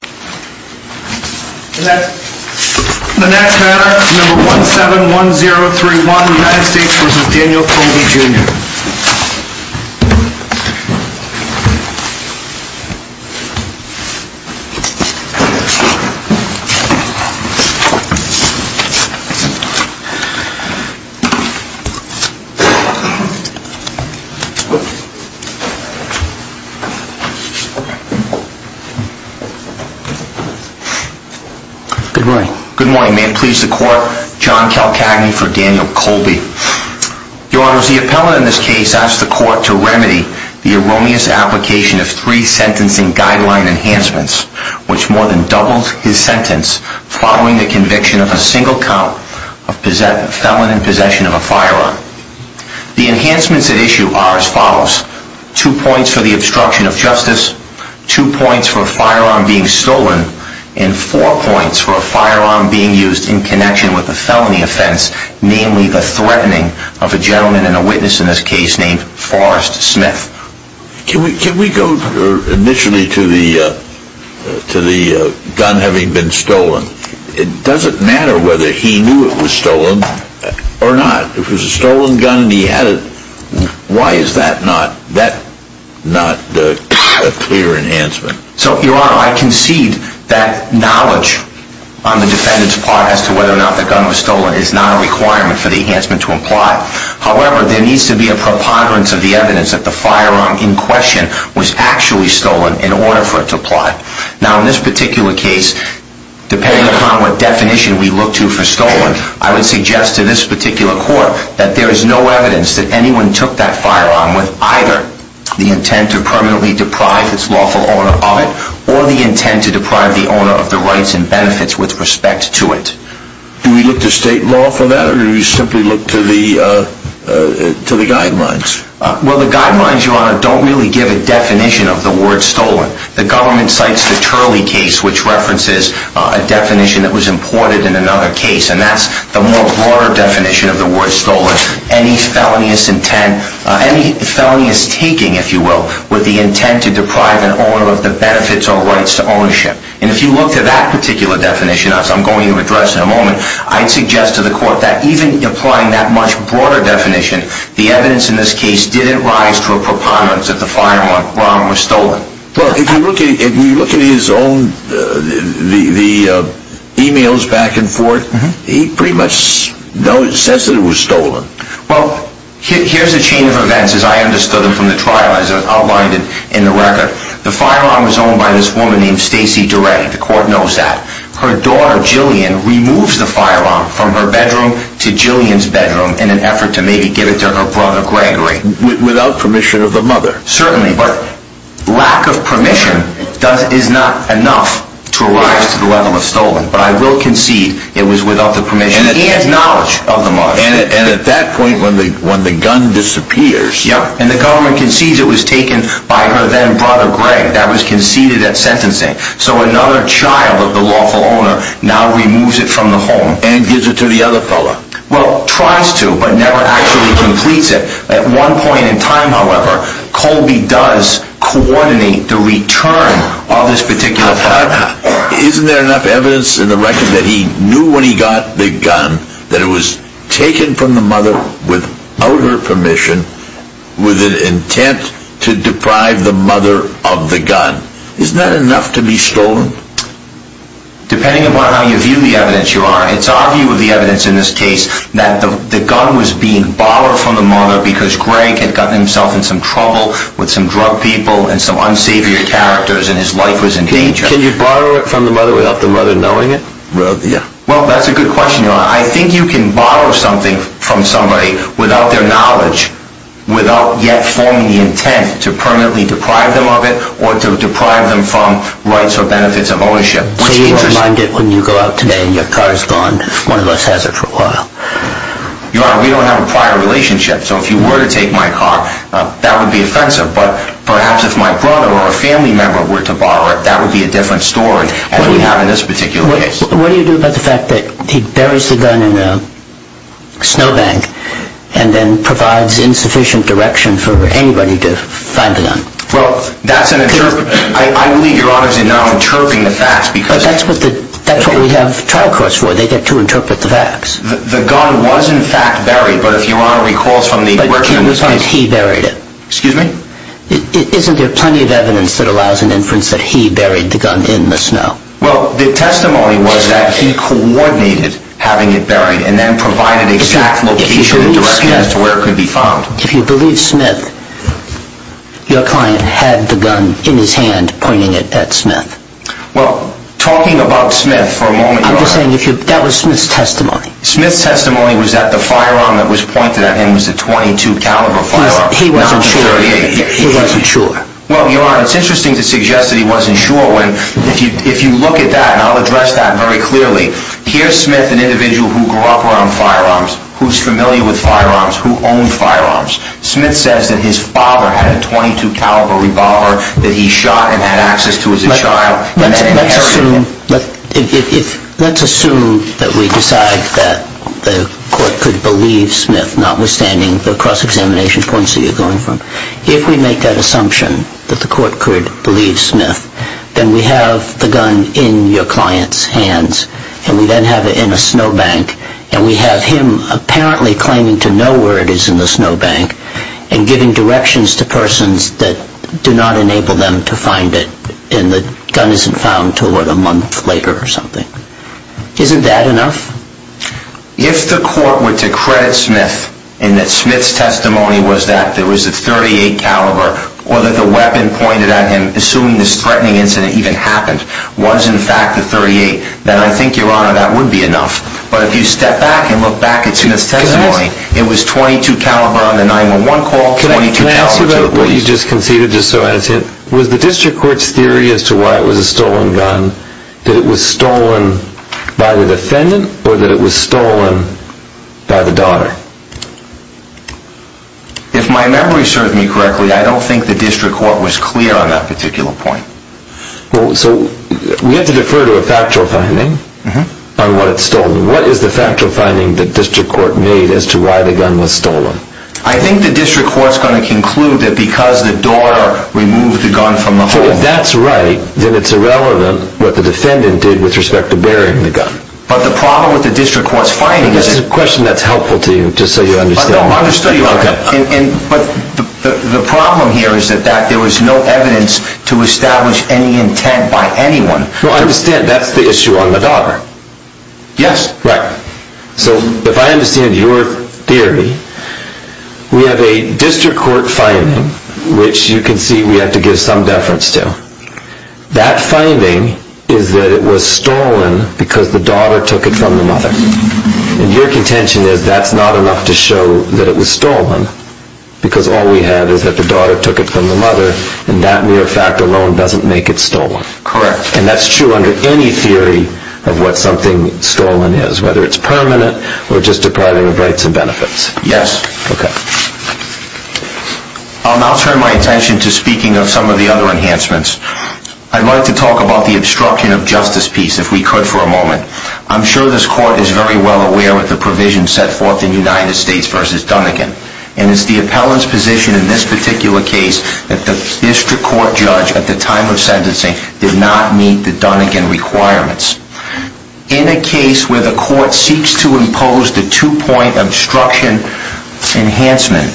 The next matter is number 171031 United States v. Daniel Colby Jr. Good morning. Good morning. May it please the court, John Calcagney for Daniel Colby. Your Honor, the appellant in this case asked the court to remedy the erroneous application of three sentencing guideline enhancements, which more than doubled his sentence following the conviction of a single count of felon in possession of a firearm. The enhancements at issue are as follows. Two points for the obstruction of justice, two points for a firearm being stolen, and four points for a firearm being used in connection with a felony offense, namely the threatening of a gentleman and a witness in this case named Forrest Smith. Can we go initially to the gun having been stolen? It doesn't matter whether he knew it was stolen or not. If it was a stolen gun and he had it, why is that not a clear enhancement? So, Your Honor, I concede that knowledge on the defendant's part as to whether or not the gun was stolen is not a requirement for the enhancement to apply. However, there needs to be a preponderance of the evidence that the firearm in question was actually stolen in order for it to apply. Now, in this particular case, depending upon what definition we look to for stolen, I would suggest to this particular court that there is no evidence that anyone took that firearm with either the intent to permanently deprive its lawful owner of it or the intent to deprive the owner of the rights and benefits with respect to it. Do we look to state law for that or do we simply look to the guidelines? Well, the guidelines, Your Honor, don't really give a definition of the word stolen. The government cites the Turley case, which references a definition that was imported in another case, and that's the more broader definition of the word stolen, any felonious intent, any felonious taking, if you will, with the intent to deprive an owner of the benefits or rights to ownership. And if you look to that particular definition, as I'm going to address in a moment, I'd suggest to the court that even applying that much broader definition, the evidence in this case didn't rise to a preponderance that the firearm was stolen. Well, if you look at his own, the e-mails back and forth, he pretty much says that it was stolen. Well, here's a chain of events, as I understood them from the trial, as outlined in the record. The firearm was owned by this woman named Stacy Duretti. The court knows that. Her daughter, Jillian, removes the firearm from her bedroom to Jillian's bedroom in an effort to maybe give it to her brother Gregory. Without permission of the mother. Certainly, but lack of permission is not enough to arise to the level of stolen. But I will concede it was without the permission and knowledge of the mother. And at that point, when the gun disappears. Yup, and the government concedes it was taken by her then brother Greg. That was conceded at sentencing. So another child of the lawful owner now removes it from the home. And gives it to the other fella. Well, tries to but never actually completes it. At one point in time, however, Colby does coordinate the return of this particular firearm. Isn't there enough evidence in the record that he knew when he got the gun that it was taken from the mother without her permission with an intent to deprive the mother of the gun? Isn't that enough to be stolen? Depending on how you view the evidence, your honor. It's obvious the evidence in this case that the gun was being borrowed from the mother because Greg had gotten himself in some trouble with some drug people and some unsavory characters and his life was in danger. Can you borrow it from the mother without the mother knowing it? Well, that's a good question, your honor. I think you can borrow something from somebody without their knowledge. Without yet forming the intent to permanently deprive them of it or to deprive them from rights or benefits of ownership. So you need to mind it when you go out today and your car is gone. One of us has it for a while. Your honor, we don't have a prior relationship. So if you were to take my car, that would be offensive. But perhaps if my brother or a family member were to borrow it, that would be a different story than we have in this particular case. What do you do about the fact that he buries the gun in a snow bank and then provides insufficient direction for anybody to find the gun? Well, that's an interpretation. I believe your honor is now interpreting the facts because... But that's what we have trial courts for. They get to interpret the facts. The gun was in fact buried, but if your honor recalls from the... But he buried it. Excuse me? Isn't there plenty of evidence that allows an inference that he buried the gun in the snow? Well, the testimony was that he coordinated having it buried and then provided exact location and direction as to where it could be found. If you believe Smith, your client had the gun in his hand pointing it at Smith. Well, talking about Smith for a moment... I'm just saying that was Smith's testimony. Smith's testimony was that the firearm that was pointed at him was a .22 caliber firearm, not a .38. He wasn't sure. Well, your honor, it's interesting to suggest that he wasn't sure when if you look at that, and I'll address that very clearly, here's Smith, an individual who grew up around firearms, who's familiar with firearms, who owned firearms. Smith says that his father had a .22 caliber revolver that he shot and had access to as a child. Let's assume that we decide that the court could believe Smith, notwithstanding the cross-examination points that you're going from. If we make that assumption that the court could believe Smith, then we have the gun in your client's hands, and we then have it in a snowbank, and we have him apparently claiming to know where it is in the snowbank, and giving directions to persons that do not enable them to find it, and the gun isn't found until a month later or something. Isn't that enough? If the court were to credit Smith in that Smith's testimony was that there was a .38 caliber, or that the weapon pointed at him, assuming this threatening incident even happened, was in fact a .38, then I think, your honor, that would be enough. But if you step back and look back at Smith's testimony, it was .22 caliber on the 911 call, .22 caliber to the police. Can I ask you about what you just conceded, just so I understand? Was the district court's theory as to why it was a stolen gun, that it was stolen by the defendant, or that it was stolen by the daughter? If my memory serves me correctly, I don't think the district court was clear on that particular point. So we have to defer to a factual finding on what it's stolen. What is the factual finding the district court made as to why the gun was stolen? I think the district court's going to conclude that because the daughter removed the gun from the home. If that's right, then it's irrelevant what the defendant did with respect to bearing the gun. But the problem with the district court's finding is that... This is a question that's helpful to you, just so you understand. But the problem here is that there was no evidence to establish any intent by anyone. I understand that's the issue on the daughter. Yes. Right. So if I understand your theory, we have a district court finding, which you can see we have to give some deference to. That finding is that it was stolen because the daughter took it from the mother. And your contention is that's not enough to show that it was stolen because all we have is that the daughter took it from the mother, and that mere fact alone doesn't make it stolen. Correct. And that's true under any theory of what something stolen is, whether it's permanent or just depriving of rights and benefits. Yes. Okay. I'll now turn my attention to speaking of some of the other enhancements. I'd like to talk about the obstruction of justice piece, if we could for a moment. I'm sure this court is very well aware of the provision set forth in United States v. Dunigan. And it's the appellant's position in this particular case that the district court judge at the time of sentencing did not meet the Dunigan requirements. In a case where the court seeks to impose the two-point obstruction enhancement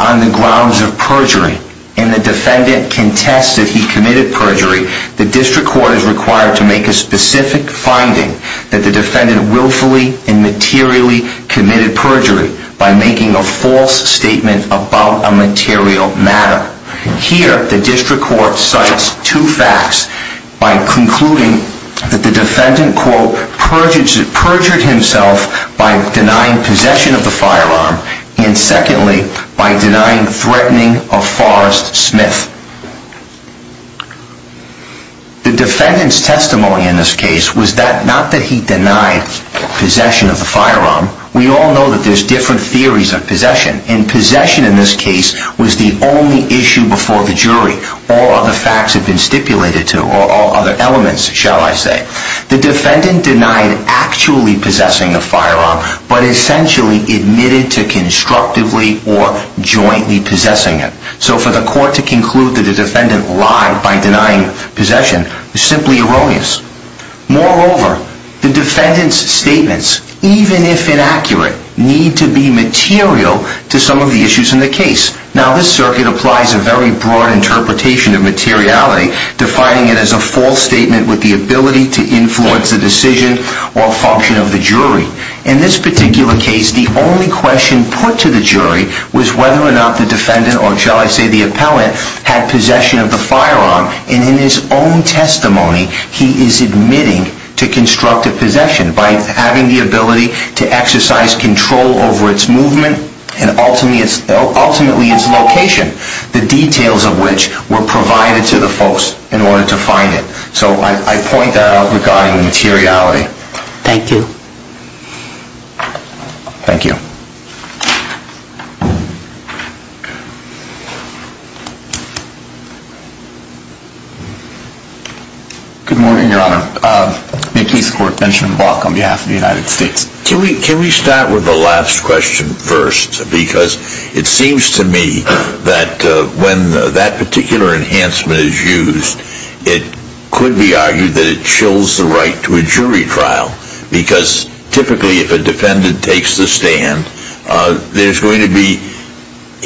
on the grounds of perjury, and the defendant contests that he committed perjury, the district court is required to make a specific finding that the defendant willfully and materially committed perjury by making a false statement about a material matter. Here, the district court cites two facts by concluding that the defendant, quote, perjured himself by denying possession of the firearm, and secondly, by denying threatening of Forrest Smith. The defendant's testimony in this case was that, not that he denied possession of the firearm. We all know that there's different theories of possession, and possession in this case was the only issue before the jury. All other facts have been stipulated to, or other elements, shall I say. The defendant denied actually possessing a firearm, but essentially admitted to constructively or jointly possessing it. So for the court to conclude that the defendant lied by denying possession is simply erroneous. Moreover, the defendant's statements, even if inaccurate, need to be material to some of the issues in the case. Now, this circuit applies a very broad interpretation of materiality, defining it as a false statement with the ability to influence the decision or function of the jury. In this particular case, the only question put to the jury was whether or not the defendant, or shall I say the appellant, had possession of the firearm. And in his own testimony, he is admitting to constructive possession by having the ability to exercise control over its movement, and ultimately its location, the details of which were provided to the folks in order to find it. So I point that out regarding materiality. Thank you. Thank you. Good morning, Your Honor. Mickey Squirt, Benjamin Block on behalf of the United States. Can we start with the last question first? Because it seems to me that when that particular enhancement is used, it could be argued that it chills the right to a jury trial, because typically if a defendant takes the stand, there's going to be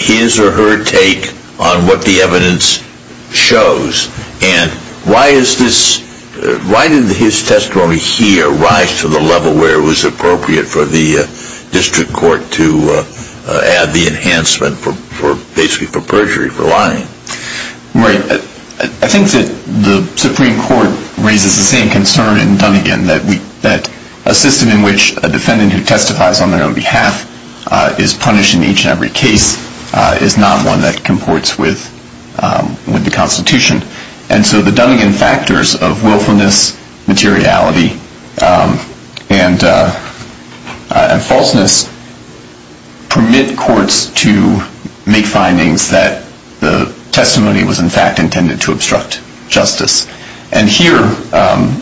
his or her take on what the evidence shows. And why did his testimony here rise to the level where it was appropriate for the district court to add the enhancement basically for perjury, for lying? Right. I think that the Supreme Court raises the same concern in Dunnegan that a system in which a defendant who testifies on their own behalf is punished in each and every case is not one that comports with the Constitution. And so the Dunnegan factors of willfulness, materiality, and falseness permit courts to make findings that the testimony was in fact intended to obstruct justice. And here the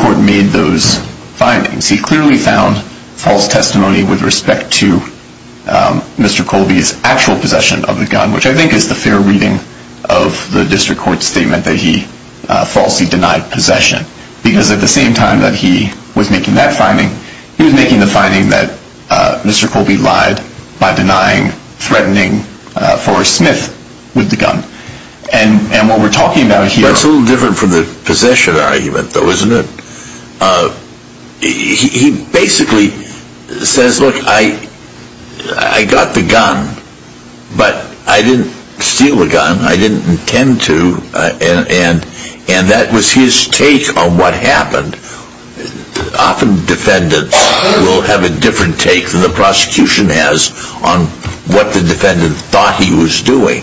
court made those findings. He clearly found false testimony with respect to Mr. Colby's actual possession of the gun, which I think is the fair reading of the district court's statement that he falsely denied possession. Because at the same time that he was making that finding, he was making the finding that Mr. Colby lied by denying threatening Forrest Smith with the gun. And what we're talking about here... That's a little different from the possession argument though, isn't it? He basically says, look, I got the gun, but I didn't steal the gun. I didn't intend to. And that was his take on what happened. Often defendants will have a different take than the prosecution has on what the defendant thought he was doing.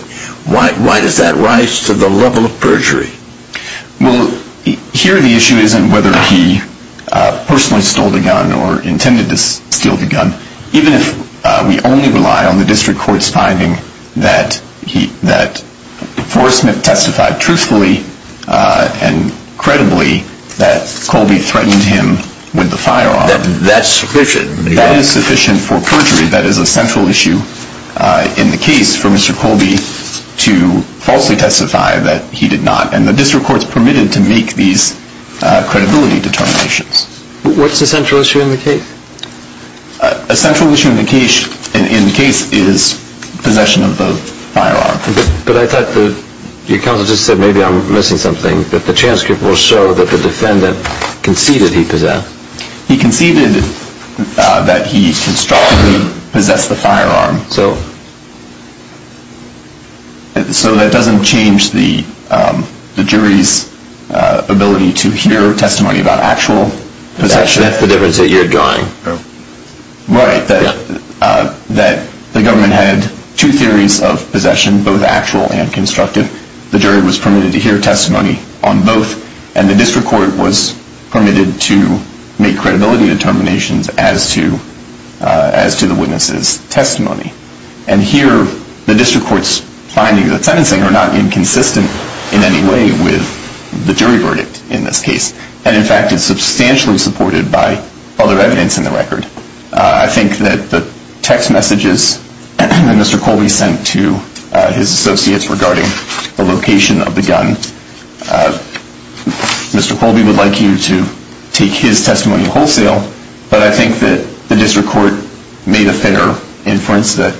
Why does that rise to the level of perjury? Well, here the issue isn't whether he personally stole the gun or intended to steal the gun. Even if we only rely on the district court's finding that Forrest Smith testified truthfully and credibly that Colby threatened him with the firearm. That's sufficient. That is sufficient for perjury. That is a central issue in the case for Mr. Colby to falsely testify that he did not and the district court's permitted to make these credibility determinations. What's the central issue in the case? A central issue in the case is possession of the firearm. But I thought the counsel just said maybe I'm missing something. But the transcript will show that the defendant conceded he possessed. He conceded that he constructively possessed the firearm. So? So that doesn't change the jury's ability to hear testimony about actual possession. That's the difference that you're drawing. Right. That the government had two theories of possession, both actual and constructive. The jury was permitted to hear testimony on both. And the district court was permitted to make credibility determinations as to the witness's testimony. And here the district court's findings of the sentencing are not inconsistent in any way with the jury verdict in this case. And, in fact, it's substantially supported by other evidence in the record. I think that the text messages that Mr. Colby sent to his associates regarding the location of the gun, Mr. Colby would like you to take his testimony wholesale, but I think that the district court made a fair inference that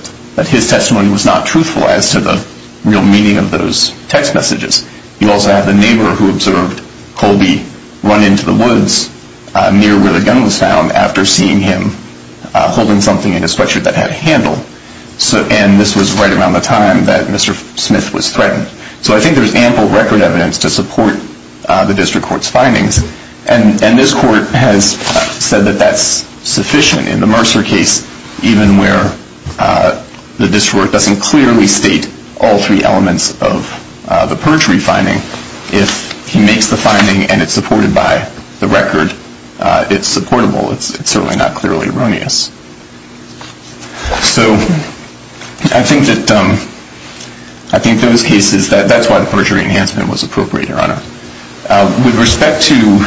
his testimony was not truthful as to the real meaning of those text messages. You also have the neighbor who observed Colby run into the woods near where the gun was found after seeing him holding something in his sweatshirt that had a handle. And this was right around the time that Mr. Smith was threatened. So I think there's ample record evidence to support the district court's findings. And this court has said that that's sufficient in the Mercer case, even where the district court doesn't clearly state all three elements of the perjury finding. If he makes the finding and it's supported by the record, it's supportable. It's certainly not clearly erroneous. So I think that those cases, that's why the perjury enhancement was appropriate, Your Honor. With respect to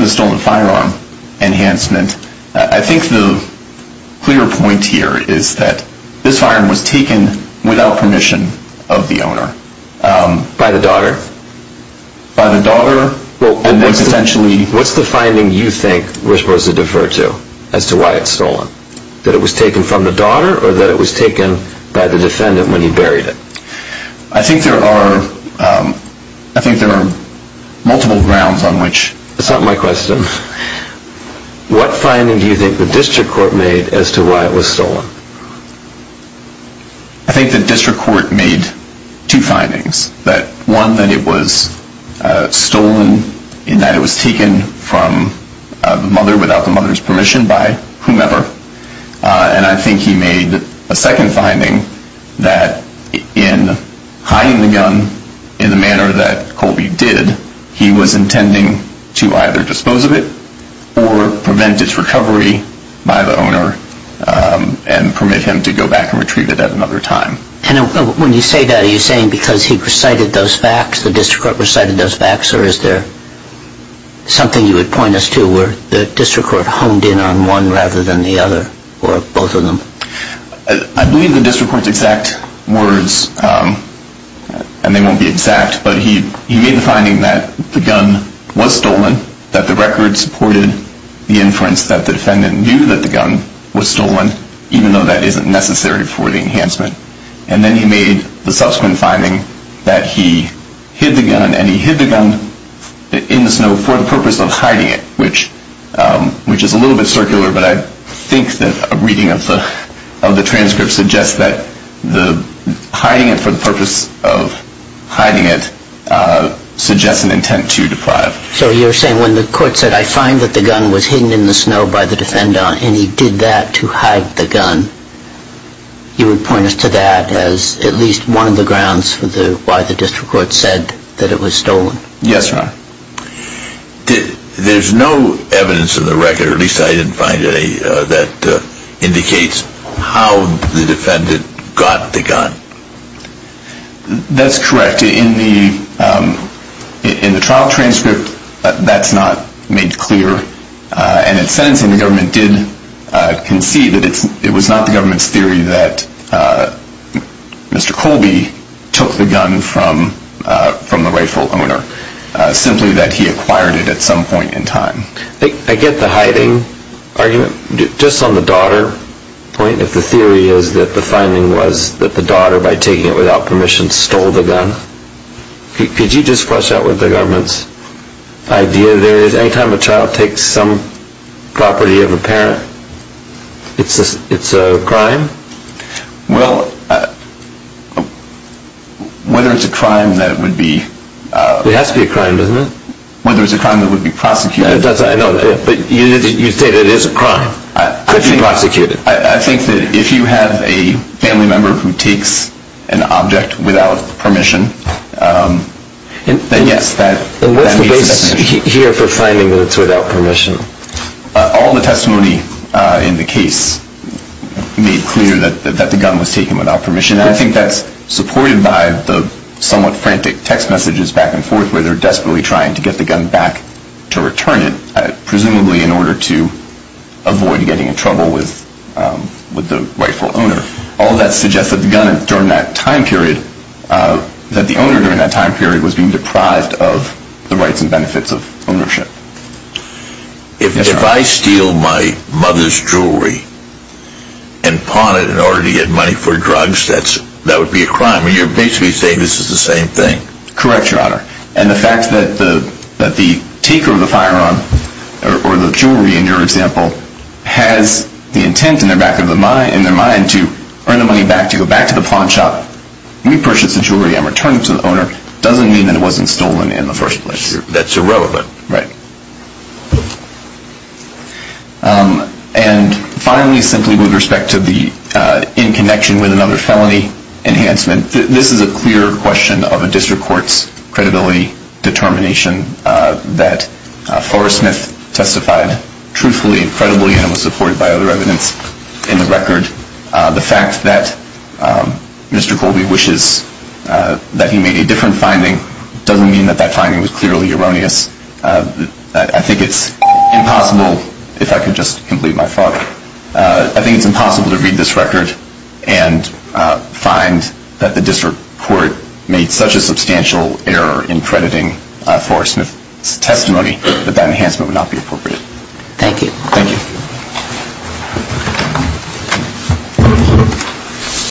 the stolen firearm enhancement, I think the clear point here is that this firearm was taken without permission of the owner. By the daughter? By the daughter. What's the finding you think we're supposed to defer to as to why it's stolen? That it was taken from the daughter or that it was taken by the defendant when he buried it? I think there are multiple grounds on which. That's not my question. What finding do you think the district court made as to why it was stolen? I think the district court made two findings. One, that it was stolen and that it was taken from the mother without the mother's permission by whomever. And I think he made a second finding that in hiding the gun in the manner that Colby did, he was intending to either dispose of it or prevent its recovery by the owner and permit him to go back and retrieve it at another time. And when you say that, are you saying because he recited those facts, the district court recited those facts, or is there something you would point us to where the district court honed in on one rather than the other or both of them? I believe the district court's exact words, and they won't be exact, but he made the finding that the gun was stolen, that the record supported the inference that the defendant knew that the gun was stolen, even though that isn't necessary for the enhancement. And then he made the subsequent finding that he hid the gun, and he hid the gun in the snow for the purpose of hiding it, which is a little bit circular, but I think that a reading of the transcript suggests that hiding it for the purpose of hiding it suggests an intent to deprive. So you're saying when the court said, I find that the gun was hidden in the snow by the defendant and he did that to hide the gun, you would point us to that as at least one of the grounds for why the district court said that it was stolen? Yes, Your Honor. There's no evidence in the record, or at least I didn't find any, that indicates how the defendant got the gun. That's correct. In the trial transcript, that's not made clear, and in sentencing the government did concede that it was not the government's theory that Mr. Colby took the gun from the rightful owner, simply that he acquired it at some point in time. I get the hiding argument, just on the daughter point, if the theory is that the finding was that the daughter, by taking it without permission, stole the gun. Could you just flush out what the government's idea there is? Any time a child takes some property of a parent, it's a crime? Well, whether it's a crime that would be... It has to be a crime, doesn't it? Whether it's a crime that would be prosecuted... I know, but you say that it is a crime, could be prosecuted. I think that if you have a family member who takes an object without permission, then yes, that meets the definition. What's the basis here for finding that it's without permission? All the testimony in the case made clear that the gun was taken without permission, and I think that's supported by the somewhat frantic text messages back and forth where they're desperately trying to get the gun back to return it, presumably in order to avoid getting in trouble with the rightful owner. All that suggests that the owner, during that time period, was being deprived of the rights and benefits of ownership. If I steal my mother's jewelry and pawn it in order to get money for drugs, that would be a crime. You're basically saying this is the same thing. Correct, Your Honor. And the fact that the taker of the firearm or the jewelry, in your example, has the intent in their mind to earn the money back to go back to the pawn shop, repurchase the jewelry and return it to the owner, doesn't mean that it wasn't stolen in the first place. That's irrelevant. Right. And finally, simply with respect to the in connection with another felony enhancement, this is a clear question of a district court's credibility determination that Forrest Smith testified truthfully and credibly, and it was supported by other evidence in the record. The fact that Mr. Colby wishes that he made a different finding doesn't mean that that finding was clearly erroneous. I think it's impossible, if I could just complete my thought, I think it's impossible to read this record and find that the district court made such a substantial error in crediting Forrest Smith's testimony that that enhancement would not be appropriate. Thank you. Thank you.